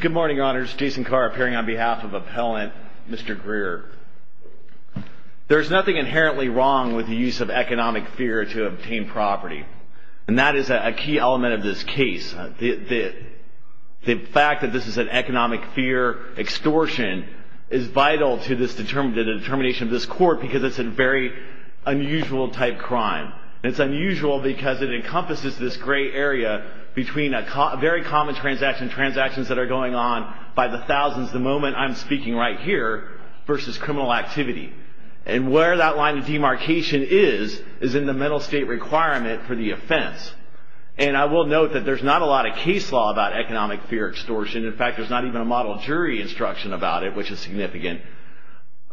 Good morning, Your Honors. Jason Carr appearing on behalf of Appellant Mr. Greer. There's nothing inherently wrong with the use of economic fear to obtain property. And that is a key element of this case. The fact that this is an economic fear extortion is vital to the determination of this court because it's a very unusual type crime. It's unusual because it encompasses this gray area between a very common transaction, transactions that are going on by the thousands the moment I'm speaking right here versus criminal activity. And where that line of demarcation is is in the mental state requirement for the offense. And I will note that there's not a lot of case law about economic fear extortion. In fact, there's not even a model jury instruction about it, which is significant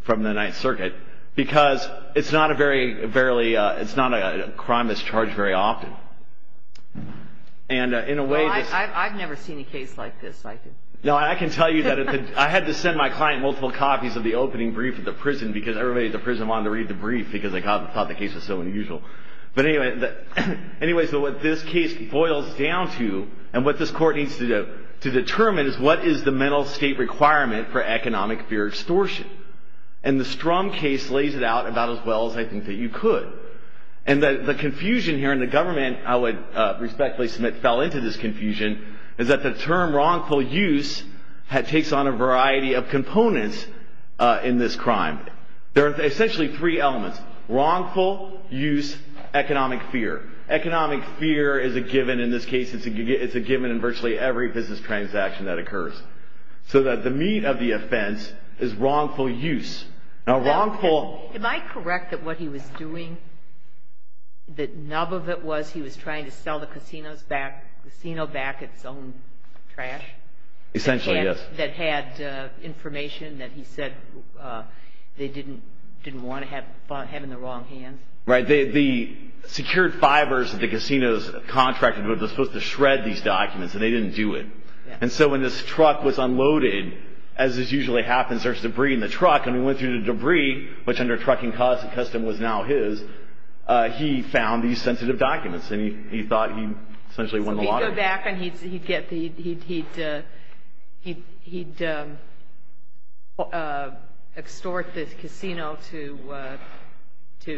from the Ninth Circuit, because it's not a crime that's charged very often. Well, I've never seen a case like this. No, I can tell you that I had to send my client multiple copies of the opening brief at the prison because everybody at the prison wanted to read the brief because they thought the case was so unusual. But anyway, so what this case boils down to and what this court needs to determine is what is the mental state requirement for economic fear extortion. And the Strum case lays it out about as well as I think that you could. And the confusion here, and the government I would respectfully submit fell into this confusion, is that the term wrongful use takes on a variety of components in this crime. There are essentially three elements, wrongful, use, economic fear. Economic fear is a given in this case. It's a given in virtually every business transaction that occurs. So that the meat of the offense is wrongful use. Am I correct that what he was doing, the nub of it was he was trying to sell the casino back its own trash? Essentially, yes. That had information that he said they didn't want to have in the wrong hands? Right. The secured fibers that the casinos contracted were supposed to shred these documents, and they didn't do it. And so when this truck was unloaded, as this usually happens, there's debris in the truck, and we went through the debris, which under trucking custom was now his, he found these sensitive documents. And he thought he essentially won the lottery. So if he'd go back and he'd extort this casino to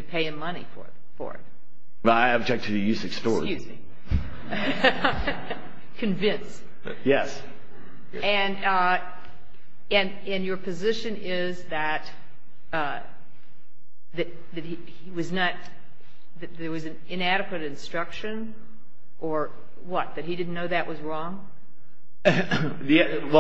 pay him money for it. I object to the use of extort. Excuse me. Convinced. Yes. And your position is that he was not, that there was an inadequate instruction or what, that he didn't know that was wrong? Well,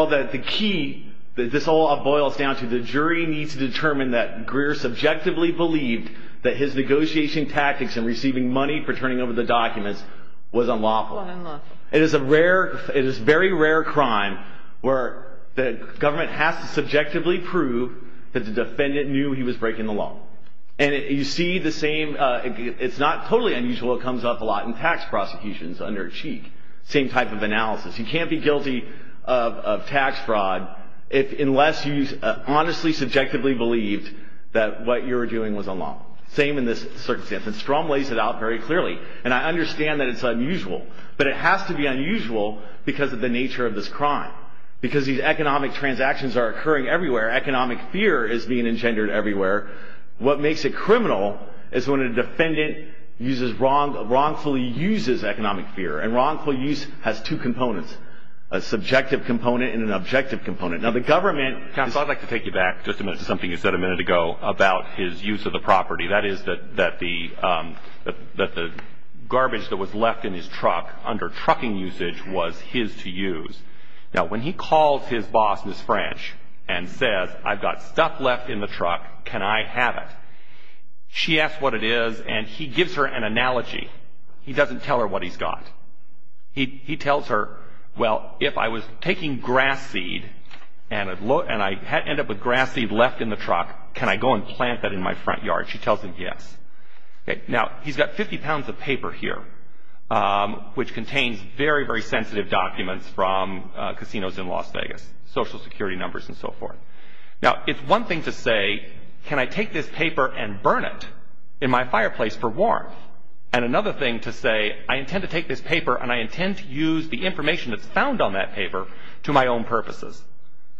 the key that this all boils down to, the jury needs to determine that Greer subjectively believed that his negotiation tactics in receiving money for turning over the documents was unlawful. Unlawful. It is a rare, it is very rare crime where the government has to subjectively prove that the defendant knew he was breaking the law. And you see the same, it's not totally unusual, it comes up a lot in tax prosecutions under a cheek. Same type of analysis. You can't be guilty of tax fraud unless you honestly subjectively believed that what you were doing was unlawful. Same in this circumstance. And Strom lays it out very clearly. And I understand that it's unusual. But it has to be unusual because of the nature of this crime. Because these economic transactions are occurring everywhere. Economic fear is being engendered everywhere. What makes it criminal is when a defendant wrongfully uses economic fear. And wrongful use has two components. A subjective component and an objective component. Now the government. Counsel, I'd like to take you back just a minute to something you said a minute ago about his use of the property. That is that the garbage that was left in his truck under trucking usage was his to use. Now when he calls his boss, Miss French, and says, I've got stuff left in the truck, can I have it? She asks what it is and he gives her an analogy. He doesn't tell her what he's got. He tells her, well, if I was taking grass seed and I end up with grass seed left in the truck, can I go and plant that in my front yard? She tells him yes. Now he's got 50 pounds of paper here, which contains very, very sensitive documents from casinos in Las Vegas. Social security numbers and so forth. Now it's one thing to say, can I take this paper and burn it in my fireplace for warmth? And another thing to say, I intend to take this paper and I intend to use the information that's found on that paper to my own purposes.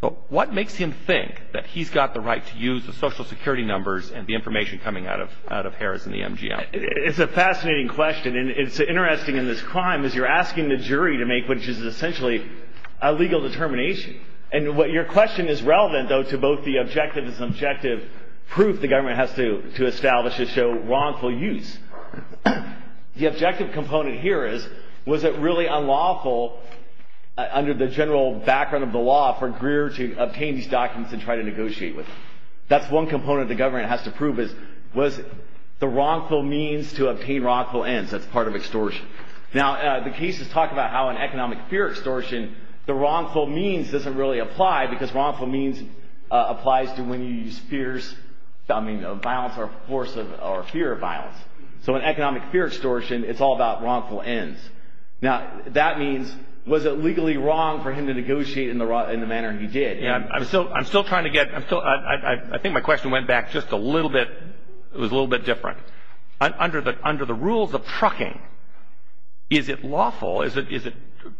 But what makes him think that he's got the right to use the social security numbers and the information coming out of Harris and the MGM? It's a fascinating question. And it's interesting in this crime is you're asking the jury to make what is essentially a legal determination. And what your question is relevant, though, to both the objective and subjective proof the government has to establish to show wrongful use. The objective component here is, was it really unlawful under the general background of the law for Greer to obtain these documents and try to negotiate with them? That's one component the government has to prove is, was the wrongful means to obtain wrongful ends? That's part of extortion. Now the cases talk about how in economic fear extortion, the wrongful means doesn't really apply because wrongful means applies to when you use fears of violence or fear of violence. So in economic fear extortion, it's all about wrongful ends. Now that means, was it legally wrong for him to negotiate in the manner he did? I'm still trying to get – I think my question went back just a little bit – it was a little bit different. Under the rules of trucking, is it lawful, is it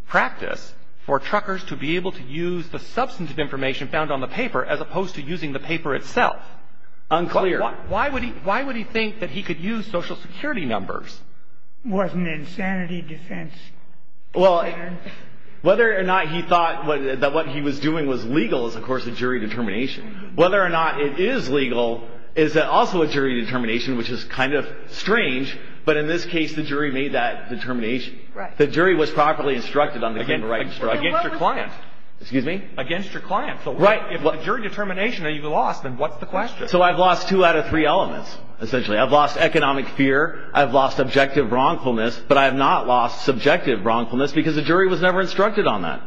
practice for truckers to be able to use the substantive information found on the paper as opposed to using the paper itself? Unclear. Why would he think that he could use Social Security numbers? It wasn't an insanity defense. Well, whether or not he thought that what he was doing was legal is, of course, a jury determination. Whether or not it is legal is also a jury determination, which is kind of strange, but in this case the jury made that determination. Right. The jury was properly instructed on the paper. Against your client. Excuse me? Against your client. Right. So if it's a jury determination that you lost, then what's the question? So I've lost two out of three elements, essentially. I've lost economic fear, I've lost objective wrongfulness, but I have not lost subjective wrongfulness because the jury was never instructed on that.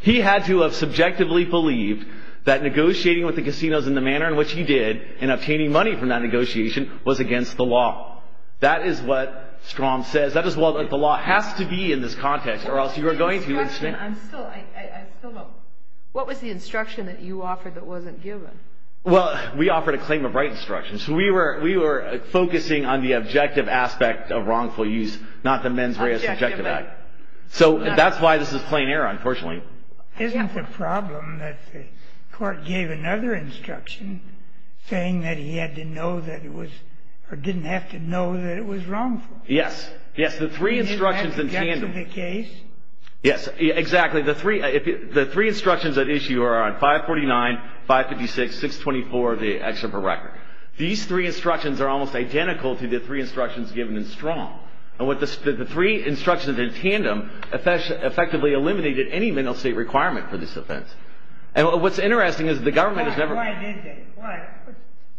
He had to have subjectively believed that negotiating with the casinos in the manner in which he did and obtaining money from that negotiation was against the law. That is what Strom says. That is what the law has to be in this context or else you are going to – What was the instruction? I'm still – I still don't – What was the instruction that you offered that wasn't given? Well, we offered a claim of right instruction. So we were focusing on the objective aspect of wrongful use, not the mens rea subjective act. So that's why this is plain error, unfortunately. Isn't the problem that the court gave another instruction saying that he had to know that it was – or didn't have to know that it was wrongful? Yes. Yes. The three instructions in tandem – In the case? Yes, exactly. The three instructions at issue are on 549, 556, 624, the excerpt of record. These three instructions are almost identical to the three instructions given in Strom. And the three instructions in tandem effectively eliminated any mental state requirement for this offense. And what's interesting is the government has never – Why didn't they?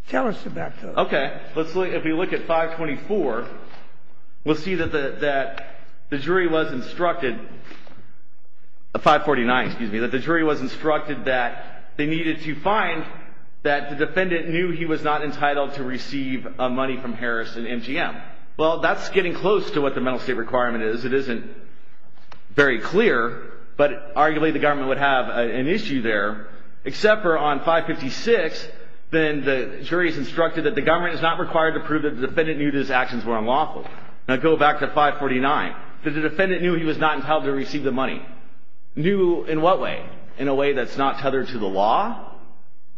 Tell us about those. Okay. Let's look – if we look at 524, we'll see that the jury was instructed – 549, excuse me – that the jury was instructed that they needed to find that the defendant knew he was not entitled to receive money from Harris and MGM. Well, that's getting close to what the mental state requirement is. It isn't very clear, but arguably the government would have an issue there. Except for on 556, then the jury is instructed that the government is not required to prove that the defendant knew that his actions were unlawful. Now, go back to 549. That the defendant knew he was not entitled to receive the money. Knew in what way? In a way that's not tethered to the law?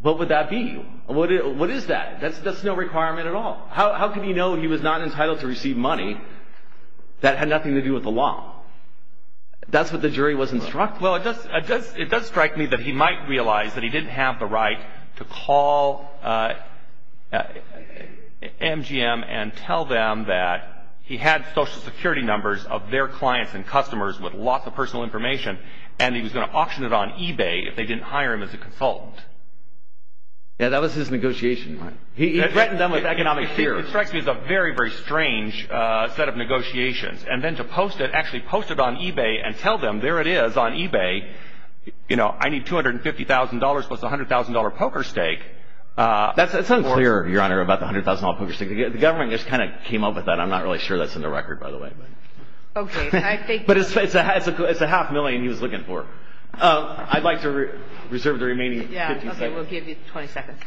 What would that be? What is that? That's no requirement at all. How could he know he was not entitled to receive money that had nothing to do with the law? That's what the jury was instructed. Well, it does strike me that he might realize that he didn't have the right to call MGM and tell them that he had social security numbers of their clients and customers with lots of personal information and he was going to auction it on eBay if they didn't hire him as a consultant. Yeah, that was his negotiation. He threatened them with economic fear. It strikes me as a very, very strange set of negotiations. And then to post it, actually post it on eBay and tell them there it is on eBay, you know, I need $250,000 plus a $100,000 poker stake. That's unclear, Your Honor, about the $100,000 poker stake. The government just kind of came up with that. I'm not really sure that's in the record, by the way. Okay. But it's a half million he was looking for. I'd like to reserve the remaining 50 seconds. Yeah, okay. We'll give you 20 seconds.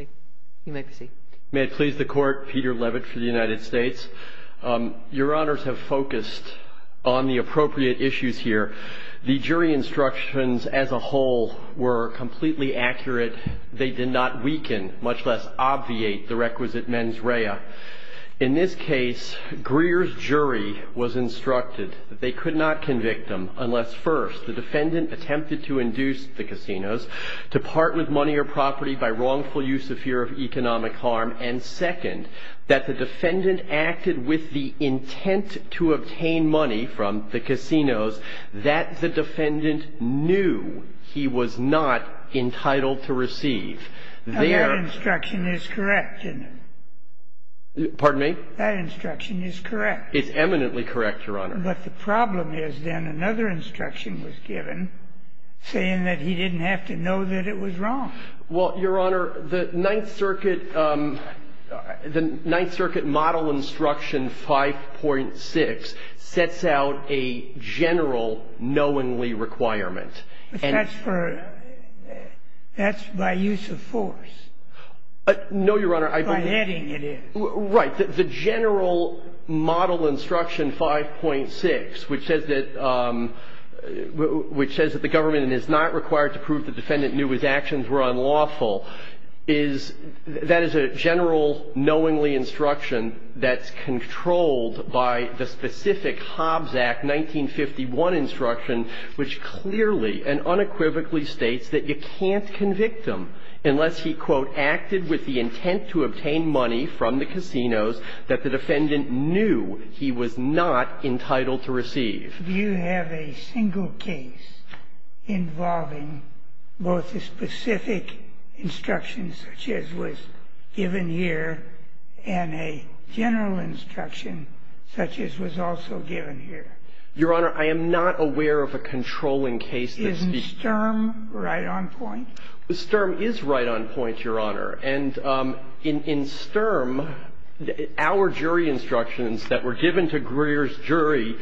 Okay. You may proceed. May it please the Court. Peter Levitt for the United States. Your Honors have focused on the appropriate issues here. The jury instructions as a whole were completely accurate. They did not weaken, much less obviate, the requisitions of the court. In this case, Greer's jury was instructed that they could not convict him unless, first, the defendant attempted to induce the casinos to part with money or property by wrongful use of fear of economic harm, and, second, that the defendant acted with the intent to obtain money from the casinos that the defendant knew he was not entitled to receive. That instruction is correct, isn't it? Pardon me? That instruction is correct. It's eminently correct, Your Honor. But the problem is, then, another instruction was given saying that he didn't have to know that it was wrong. Well, Your Honor, the Ninth Circuit model instruction 5.6 sets out a general knowingly requirement. But that's for — that's by use of force. No, Your Honor. By heading, it is. Right. The general model instruction 5.6, which says that the government is not required to prove the defendant knew his actions were unlawful, is — that is a general knowingly instruction that's controlled by the specific Hobbs Act 1951 instruction, which clearly and unequivocally states that you can't convict them unless he, quote, acted with the intent to obtain money from the casinos that the defendant knew he was not entitled to receive. Do you have a single case involving both a specific instruction, such as was given here, and a general instruction, such as was also given here? Your Honor, I am not aware of a controlling case that speaks to that. Isn't Sturm right on point? Sturm is right on point, Your Honor. And in Sturm, our jury instructions that were given to Greer's jury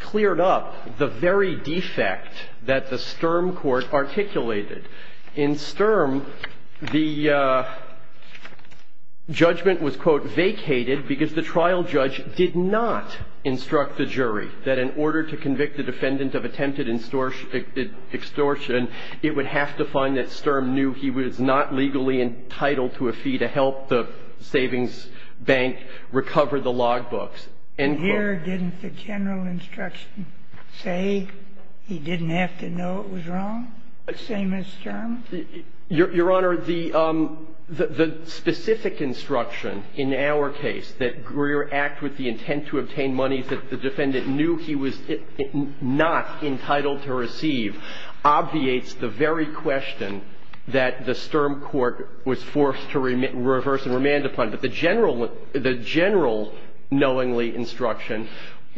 cleared up the very defect that the Sturm court articulated. In Sturm, the judgment was, quote, vacated because the trial judge did not instruct the jury that in order to convict the defendant of attempted extortion, it would have to find that Sturm knew he was not legally entitled to a fee to help the savings bank recover the logbooks, end quote. And here didn't the general instruction say he didn't have to know it was wrong, same as Sturm? Your Honor, the specific instruction in our case, that Greer act with the intent to obtain monies that the defendant knew he was not entitled to receive, obviates the very question that the Sturm court was forced to reverse and remand upon. But the general knowingly instruction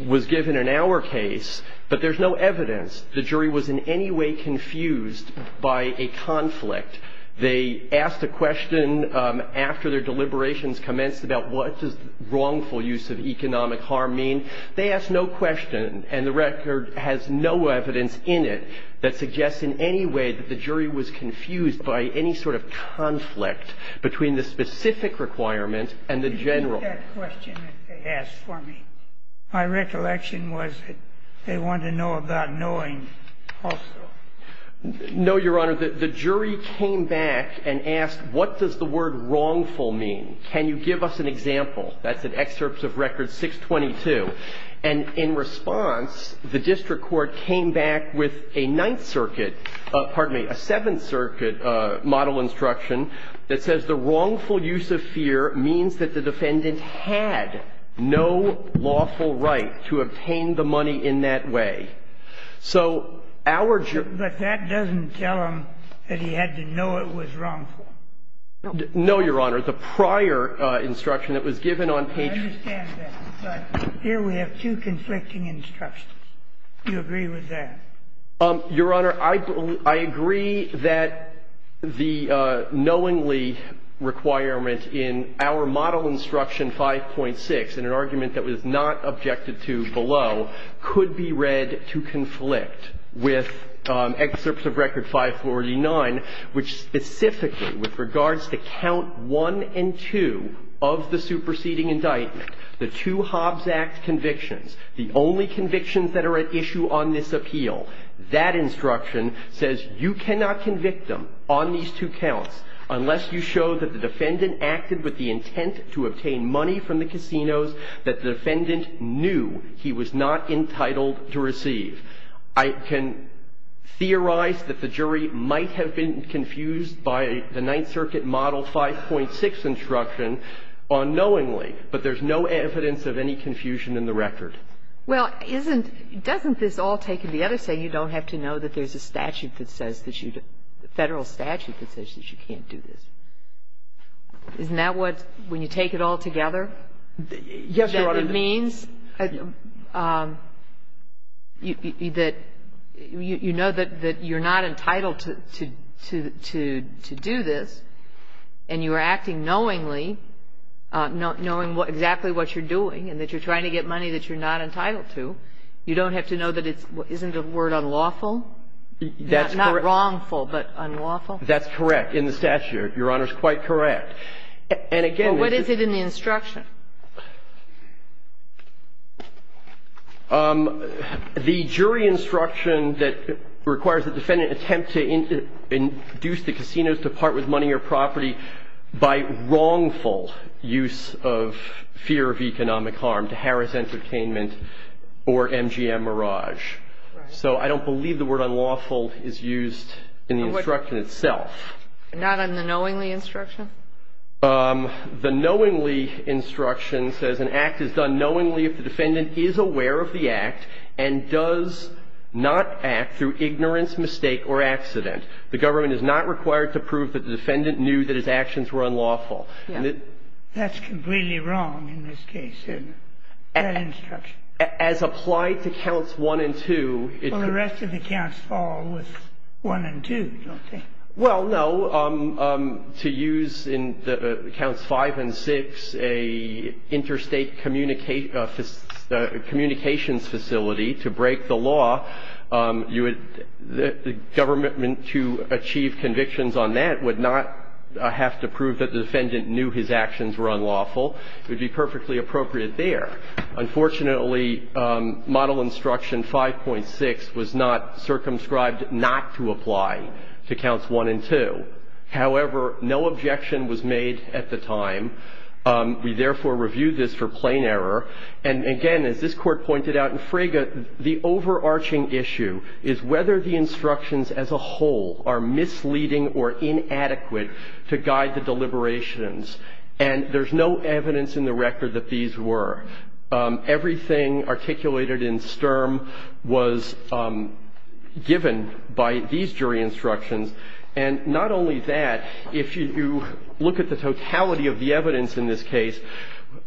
was given in our case, but there's no evidence the jury was in any way confused by a conflict. They asked a question after their deliberations commenced about what does wrongful use of economic harm mean. They asked no question, and the record has no evidence in it that suggests in any way that the jury was confused by any sort of conflict between the specific requirement and the general. That question that they asked for me, my recollection was that they wanted to know about knowing also. No, Your Honor, the jury came back and asked what does the word wrongful mean? Can you give us an example? That's an excerpt of record 622. And in response, the district court came back with a Ninth Circuit, pardon me, a Seventh Circuit model instruction that says the wrongful use of fear means that the defendant had no lawful right to obtain the money in that way. So our jury ---- But that doesn't tell him that he had to know it was wrongful. No, Your Honor. The prior instruction that was given on page ---- I understand that. But here we have two conflicting instructions. Do you agree with that? Your Honor, I agree that the knowingly requirement in our model instruction 5.6 in an argument that was not objected to below could be read to conflict with excerpts of record 549, which specifically with regards to count 1 and 2 of the superseding indictment, the two Hobbs Act convictions, the only convictions that are at issue on this appeal, that instruction says you cannot convict them on these two counts unless you show that the defendant acted with the intent to obtain money from the casinos that the defendant knew he was not entitled to receive. I can theorize that the jury might have been confused by the Ninth Circuit model 5.6 instruction unknowingly, but there's no evidence of any confusion in the record. Well, isn't ---- doesn't this all take to the other side? You don't have to know that there's a statute that says that you don't ---- a Federal statute that says that you can't do this. Isn't that what ---- when you take it all together? Yes, Your Honor. It means that you know that you're not entitled to do this, and you are acting knowingly, knowing exactly what you're doing and that you're trying to get money that you're not entitled to. You don't have to know that it's ---- isn't the word unlawful? That's correct. Not wrongful, but unlawful? That's correct. In the statute, Your Honor, it's quite correct. And again, this is ---- Well, what is it in the instruction? The jury instruction that requires the defendant attempt to induce the casinos to part with money or property by wrongful use of fear of economic harm to harass entertainment or MGM mirage. Right. So I don't believe the word unlawful is used in the instruction itself. Not in the knowingly instruction? The knowingly instruction says an act is done knowingly if the defendant is aware of the act and does not act through ignorance, mistake or accident. The government is not required to prove that the defendant knew that his actions were unlawful. Yes. That's completely wrong in this case, that instruction. As applied to Counts 1 and 2, it's ---- Well, the rest of the counts fall with 1 and 2, don't they? Well, no. To use in Counts 5 and 6 an interstate communications facility to break the law, you would ---- the government, to achieve convictions on that, would not have to prove that the defendant knew his actions were unlawful. It would be perfectly appropriate there. Unfortunately, Model Instruction 5.6 was not circumscribed not to apply to Counts 1 and 2. However, no objection was made at the time. We, therefore, reviewed this for plain error. And, again, as this Court pointed out in Fraga, the overarching issue is whether the instructions as a whole are misleading or inadequate to guide the deliberations. And there's no evidence in the record that these were. Everything articulated in Sturm was given by these jury instructions. And not only that, if you look at the totality of the evidence in this case,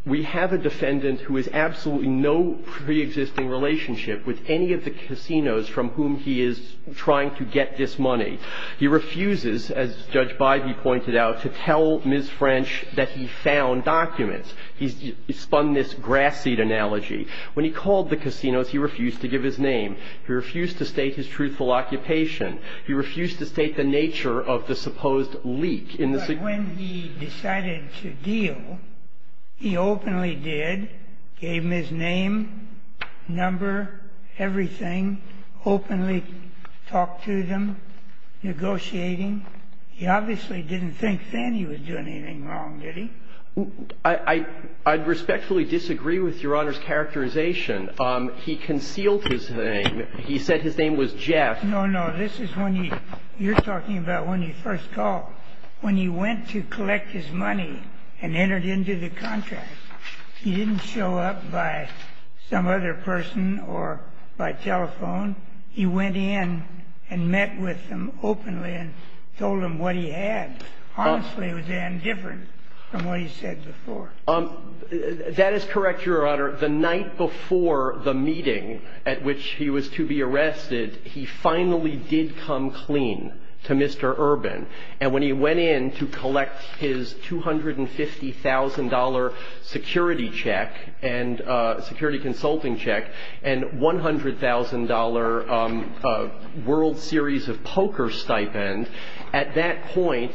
we have a defendant who has absolutely no preexisting relationship with any of the casinos from whom he is trying to get this money. He refuses, as Judge Bybee pointed out, to tell Ms. French that he found documents. He spun this grass seed analogy. When he called the casinos, he refused to give his name. He refused to state his truthful occupation. He refused to state the nature of the supposed leak in the ---- And when he decided to deal, he openly did, gave them his name, number, everything, openly talked to them, negotiating. He obviously didn't think then he was doing anything wrong, did he? I'd respectfully disagree with Your Honor's characterization. He concealed his name. He said his name was Jeff. No, no. This is when you're talking about when he first called. When he went to collect his money and entered into the contract, he didn't show up by some other person or by telephone. He went in and met with them openly and told them what he had. Honestly, it was indifferent from what he said before. That is correct, Your Honor. The night before the meeting at which he was to be arrested, he finally did come clean to Mr. Urban. And when he went in to collect his $250,000 security check and security consulting check and $100,000 World Series of Poker stipend, at that point,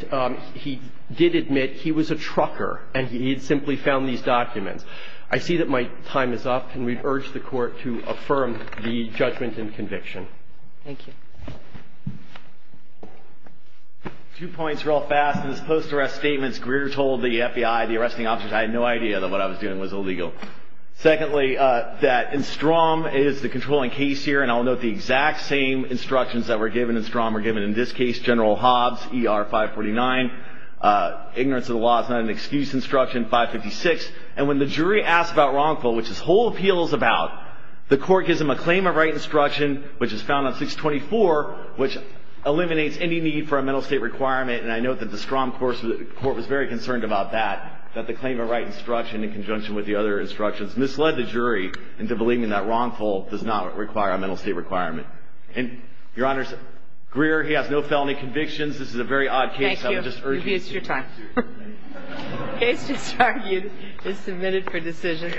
he did admit he was a trucker and he had simply found these documents. I see that my time is up, and we urge the Court to affirm the judgment and conviction. Thank you. Two points real fast. In his post-arrest statements, Greer told the FBI, the arresting officers, I had no idea that what I was doing was illegal. Secondly, that in Strom is the controlling case here, and I'll note the exact same instructions that were given in Strom were given in this case, General Hobbs, ER 549. Ignorance of the law is not an excuse instruction, 556. And when the jury asks about wrongful, which this whole appeal is about, the Court gives them a claim of right instruction, which is found on 624, which eliminates any need for a mental state requirement. And I note that the Strom Court was very concerned about that, that the claim of right instruction in conjunction with the other instructions misled the jury into believing that wrongful does not require a mental state requirement. And, Your Honor, Greer, he has no felony convictions. This is a very odd case. Thank you. I'm just urging you. Maybe it's your time. The case just argued is submitted for decision.